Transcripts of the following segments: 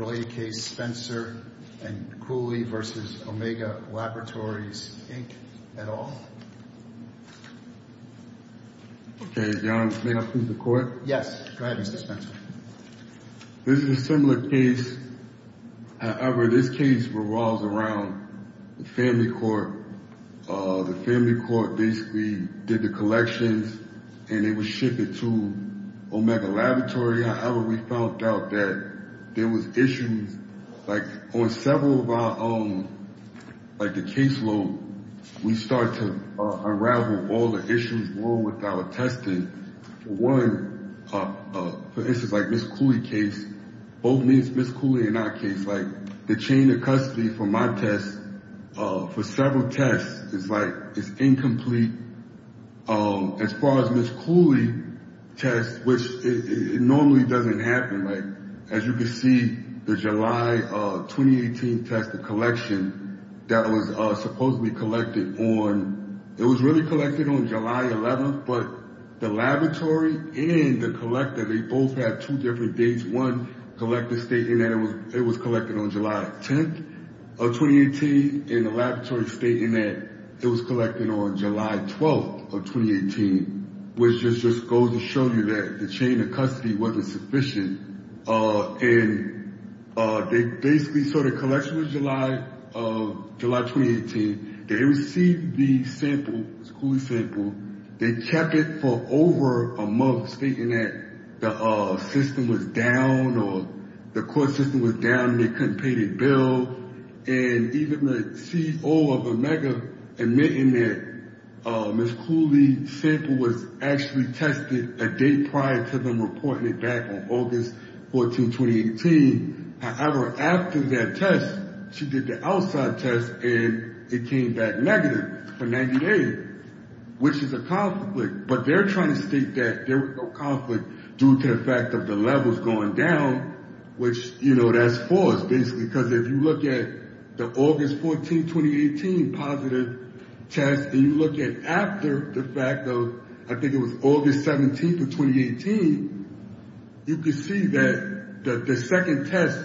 Roy K. Spencer and Cooley v. Omega Laboratories Inc. et al. Okay, Your Honor, may I speak to the court? Yes, go ahead, Mr. Spencer. This is a similar case. However, this case revolves around the family court. The family court basically did the collections and they would ship it to Omega Laboratory. However, we found out that there was issues, like on several of our own, like the caseload, we start to unravel all the issues with our testing. One, for instance, like Ms. Cooley's case, both Ms. Cooley and our case, like the chain of custody for my test, for several tests, is like, it's incomplete. As far as Ms. Cooley's test, which normally doesn't happen, like, as you can see, the July 2018 test, the collection, that was supposedly collected on, it was really collected on July 11th, but the laboratory and the collector, they both had two different dates. One collector stated that it was collected on July 10th of 2018, and the laboratory stated that it was collected on July 12th of 2018, which just goes to show you that the chain of custody wasn't sufficient. And they basically, so the collection was July 2018. They received the sample, Ms. Cooley's sample. They kept it for over a month, stating that the system was down or the court system was down and they couldn't pay the bill. And even the CO of Omega admitting that Ms. Cooley's sample was actually tested a date prior to them reporting it back on August 14, 2018. However, after that test, she did the outside test, and it came back negative for 98, which is a conflict, but they're trying to state that there was no conflict due to the fact of the levels going down, which, you know, that's false, basically because if you look at the August 14, 2018 positive test, and you look at after the fact of, I think it was August 17th of 2018, you can see that the second test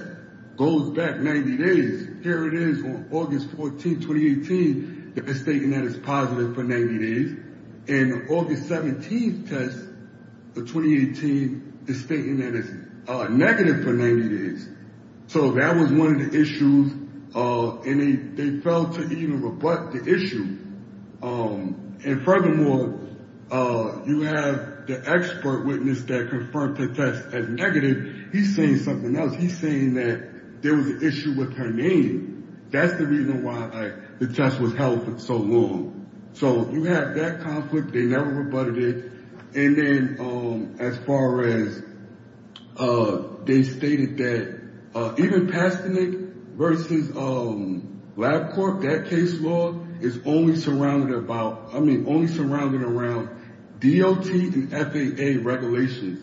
goes back 90 days. Here it is on August 14, 2018. They're stating that it's positive for 90 days, and August 17th test of 2018 is stating that it's negative for 90 days. So that was one of the issues, and they failed to even rebut the issue. And furthermore, you have the expert witness that confirmed the test as negative. He's saying something else. He's saying that there was an issue with her name. That's the reason why the test was held for so long. So you have that conflict. They never rebutted it. And then, as far as, they stated that even Pastanik versus LabCorp, that case law is only surrounded about, I mean, only surrounded around DOT and FAA regulations.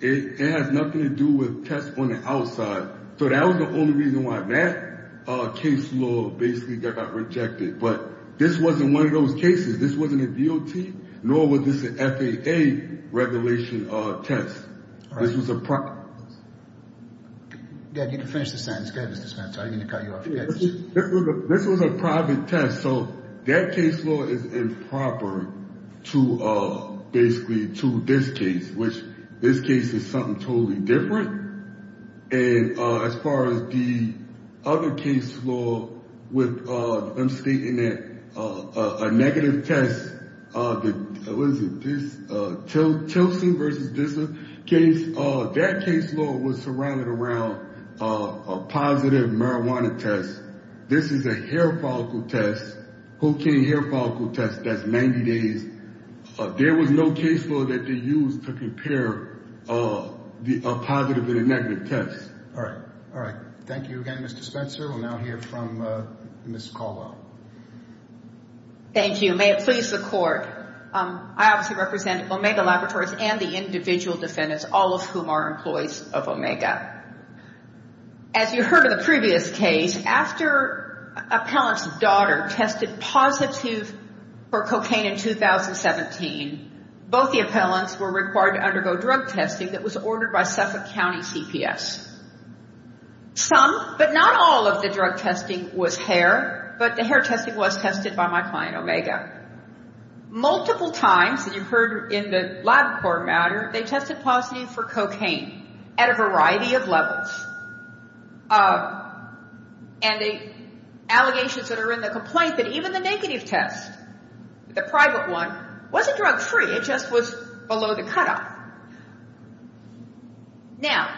It has nothing to do with tests on the outside. So that was the only reason why that case law basically got rejected, but this wasn't one of those cases. This wasn't a DOT, nor was this an FAA regulation test. This was a private. You need to finish the sentence. Go ahead, Mr. Smith. I didn't mean to cut you off. This was a private test. So that case law is improper to basically to this case, which this case is something totally different. And as far as the other case law with them stating that a negative test, Tilsen versus Dissel, that case law was surrounded around a positive marijuana test. This is a hair follicle test, cocaine hair follicle test. That's 90 days. There was no case law that they used to compare a positive and a negative test. All right. All right. Thank you again, Mr. Spencer. We'll now hear from Ms. Caldwell. Thank you. May it please the court. I obviously represent Omega Laboratories and the individual defendants, all of whom are employees of Omega. As you heard in the previous case, after appellant's daughter tested positive for cocaine in 2017, both the appellants were required to undergo drug testing that was ordered by Suffolk County CPS. Some, but not all of the drug testing was hair, but the hair testing was tested by my client Omega. Multiple times, as you've heard in the LabCorp matter, they tested positive for cocaine at a variety of levels. And the allegations that are in the complaint, that even the negative test, the private one, wasn't drug free. It just was below the cutoff. Now,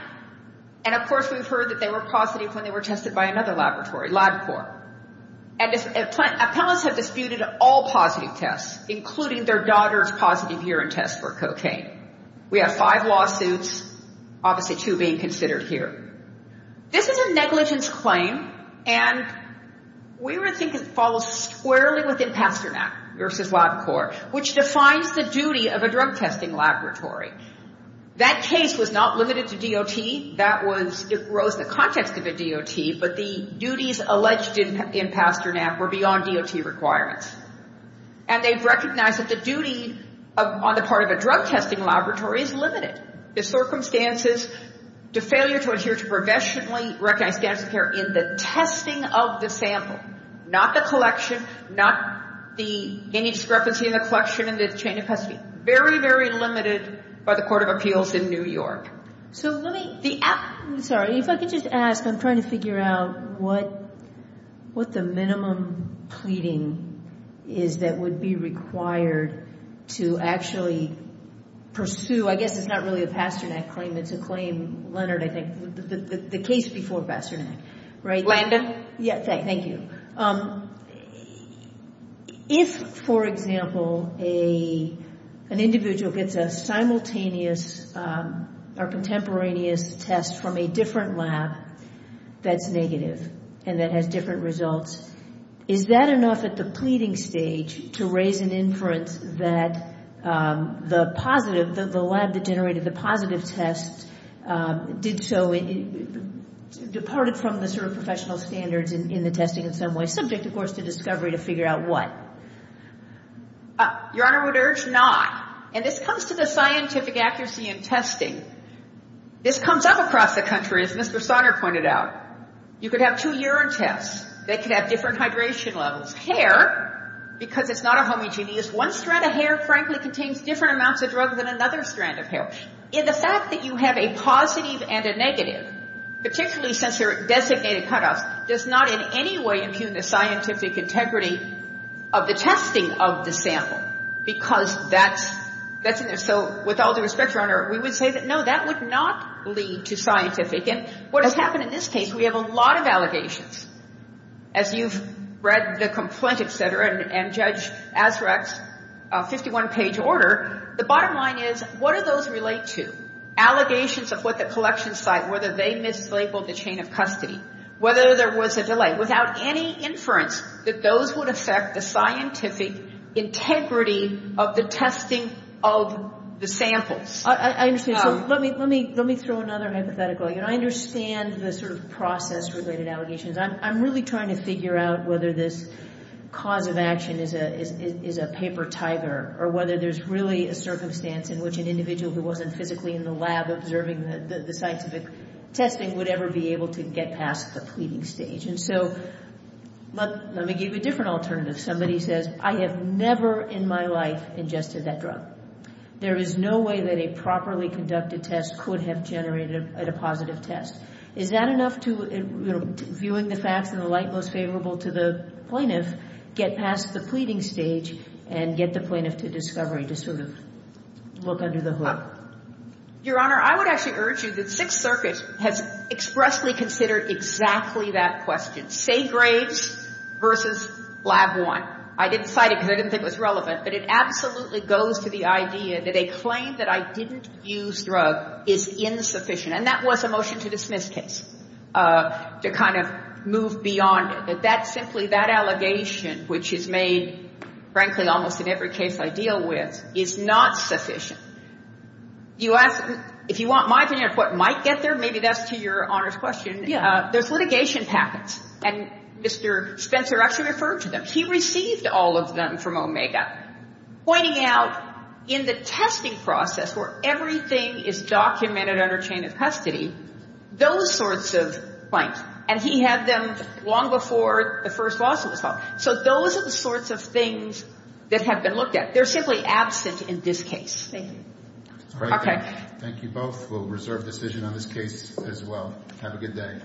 and of course, we've heard that they were positive when they were tested by another laboratory, LabCorp, and appellants have disputed all positive tests, including their daughter's positive urine test for cocaine. We have five lawsuits, obviously two being considered here. This is a negligence claim, and we were thinking it follows squarely within Pasternak versus LabCorp, which defines the duty of a drug testing laboratory. That case was not limited to DOT. That was, it rose the context of a DOT, but the duties alleged in Pasternak were beyond DOT requirements. And they recognize that the duty on the part of a drug testing laboratory is limited. The circumstances, the failure to adhere to professionally recognized standards of care in the testing of the sample, not the collection, not the any discrepancy in the collection and the chain of custody, very, very limited by the Court of Appeals in New York. So let me, the, sorry, if I could just ask, I'm trying to figure out what, what the minimum pleading is that would be required to actually pursue, I guess it's not really a Pasternak claim, it's a claim, Leonard, I think, the case before Pasternak, right? Landon? Yeah, thank you. If, for example, a, an individual gets a simultaneous or contemporaneous test from a different lab that's negative and that has different results, is that enough at the pleading stage to raise an inference that the positive, the lab that generated the positive test did so, departed from the sort of professional standards in the testing of the sample? Subject, of course, to discovery to figure out what? Your Honor, I would urge not. And this comes to the scientific accuracy in testing. This comes up across the country, as Mr. Sonner pointed out. You could have two urine tests that could have different hydration levels. Hair, because it's not a homogeneous, one strand of hair, frankly, contains different amounts of drugs than another strand of hair. And the fact that you have a positive and a negative, particularly since they're designated cut-offs, does not in any way impugn the scientific integrity of the testing of the sample. Because that's, that's in there. So, with all due respect, Your Honor, we would say that, no, that would not lead to scientific. And what has happened in this case, we have a lot of allegations. As you've read the complaint, et cetera, and Judge Azraq's 51-page order, the bottom line is, what do those relate to? Allegations of what the collection site, whether they mislabeled the chain of custody, whether there was a delay. Without any inference that those would affect the scientific integrity of the testing of the samples. I understand. So, let me, let me, let me throw another hypothetical. You know, I understand the sort of process-related allegations. I'm really trying to figure out whether this cause of action is a, is a paper tiger, or whether there's really a circumstance in which an individual who wasn't physically in the lab observing the, the scientific testing would ever be able to get past the pleading stage. And so, let, let me give you a different alternative. Somebody says, I have never in my life ingested that drug. There is no way that a properly conducted test could have generated a positive test. Is that enough to, you know, viewing the facts in the light most favorable to the plaintiff, get past the pleading stage and get the plaintiff to discovery, to sort of look under the hood? Your Honor, I would actually urge you that Sixth Circuit has expressly considered exactly that question. Say Graves versus Lab I. I didn't cite it because I didn't think it was relevant, but it absolutely goes to the idea that a claim that I didn't use drug is insufficient. And that was a motion to dismiss case, to kind of move beyond it. That that simply, that allegation, which is made, frankly, almost in every case I deal with, is not sufficient. You ask, if you want my opinion of what might get there, maybe that's to your Honor's question. Yeah. There's litigation packets. And Mr. Spencer actually referred to them. He received all of them from Omega, pointing out in the testing process where everything is documented under chain of custody, those sorts of claims. And he had them long before the first lawsuit was filed. So those are the sorts of things that have been looked at. They're simply absent in this case. Thank you. Okay. Thank you both. We'll reserve decision on this case as well. Have a good day.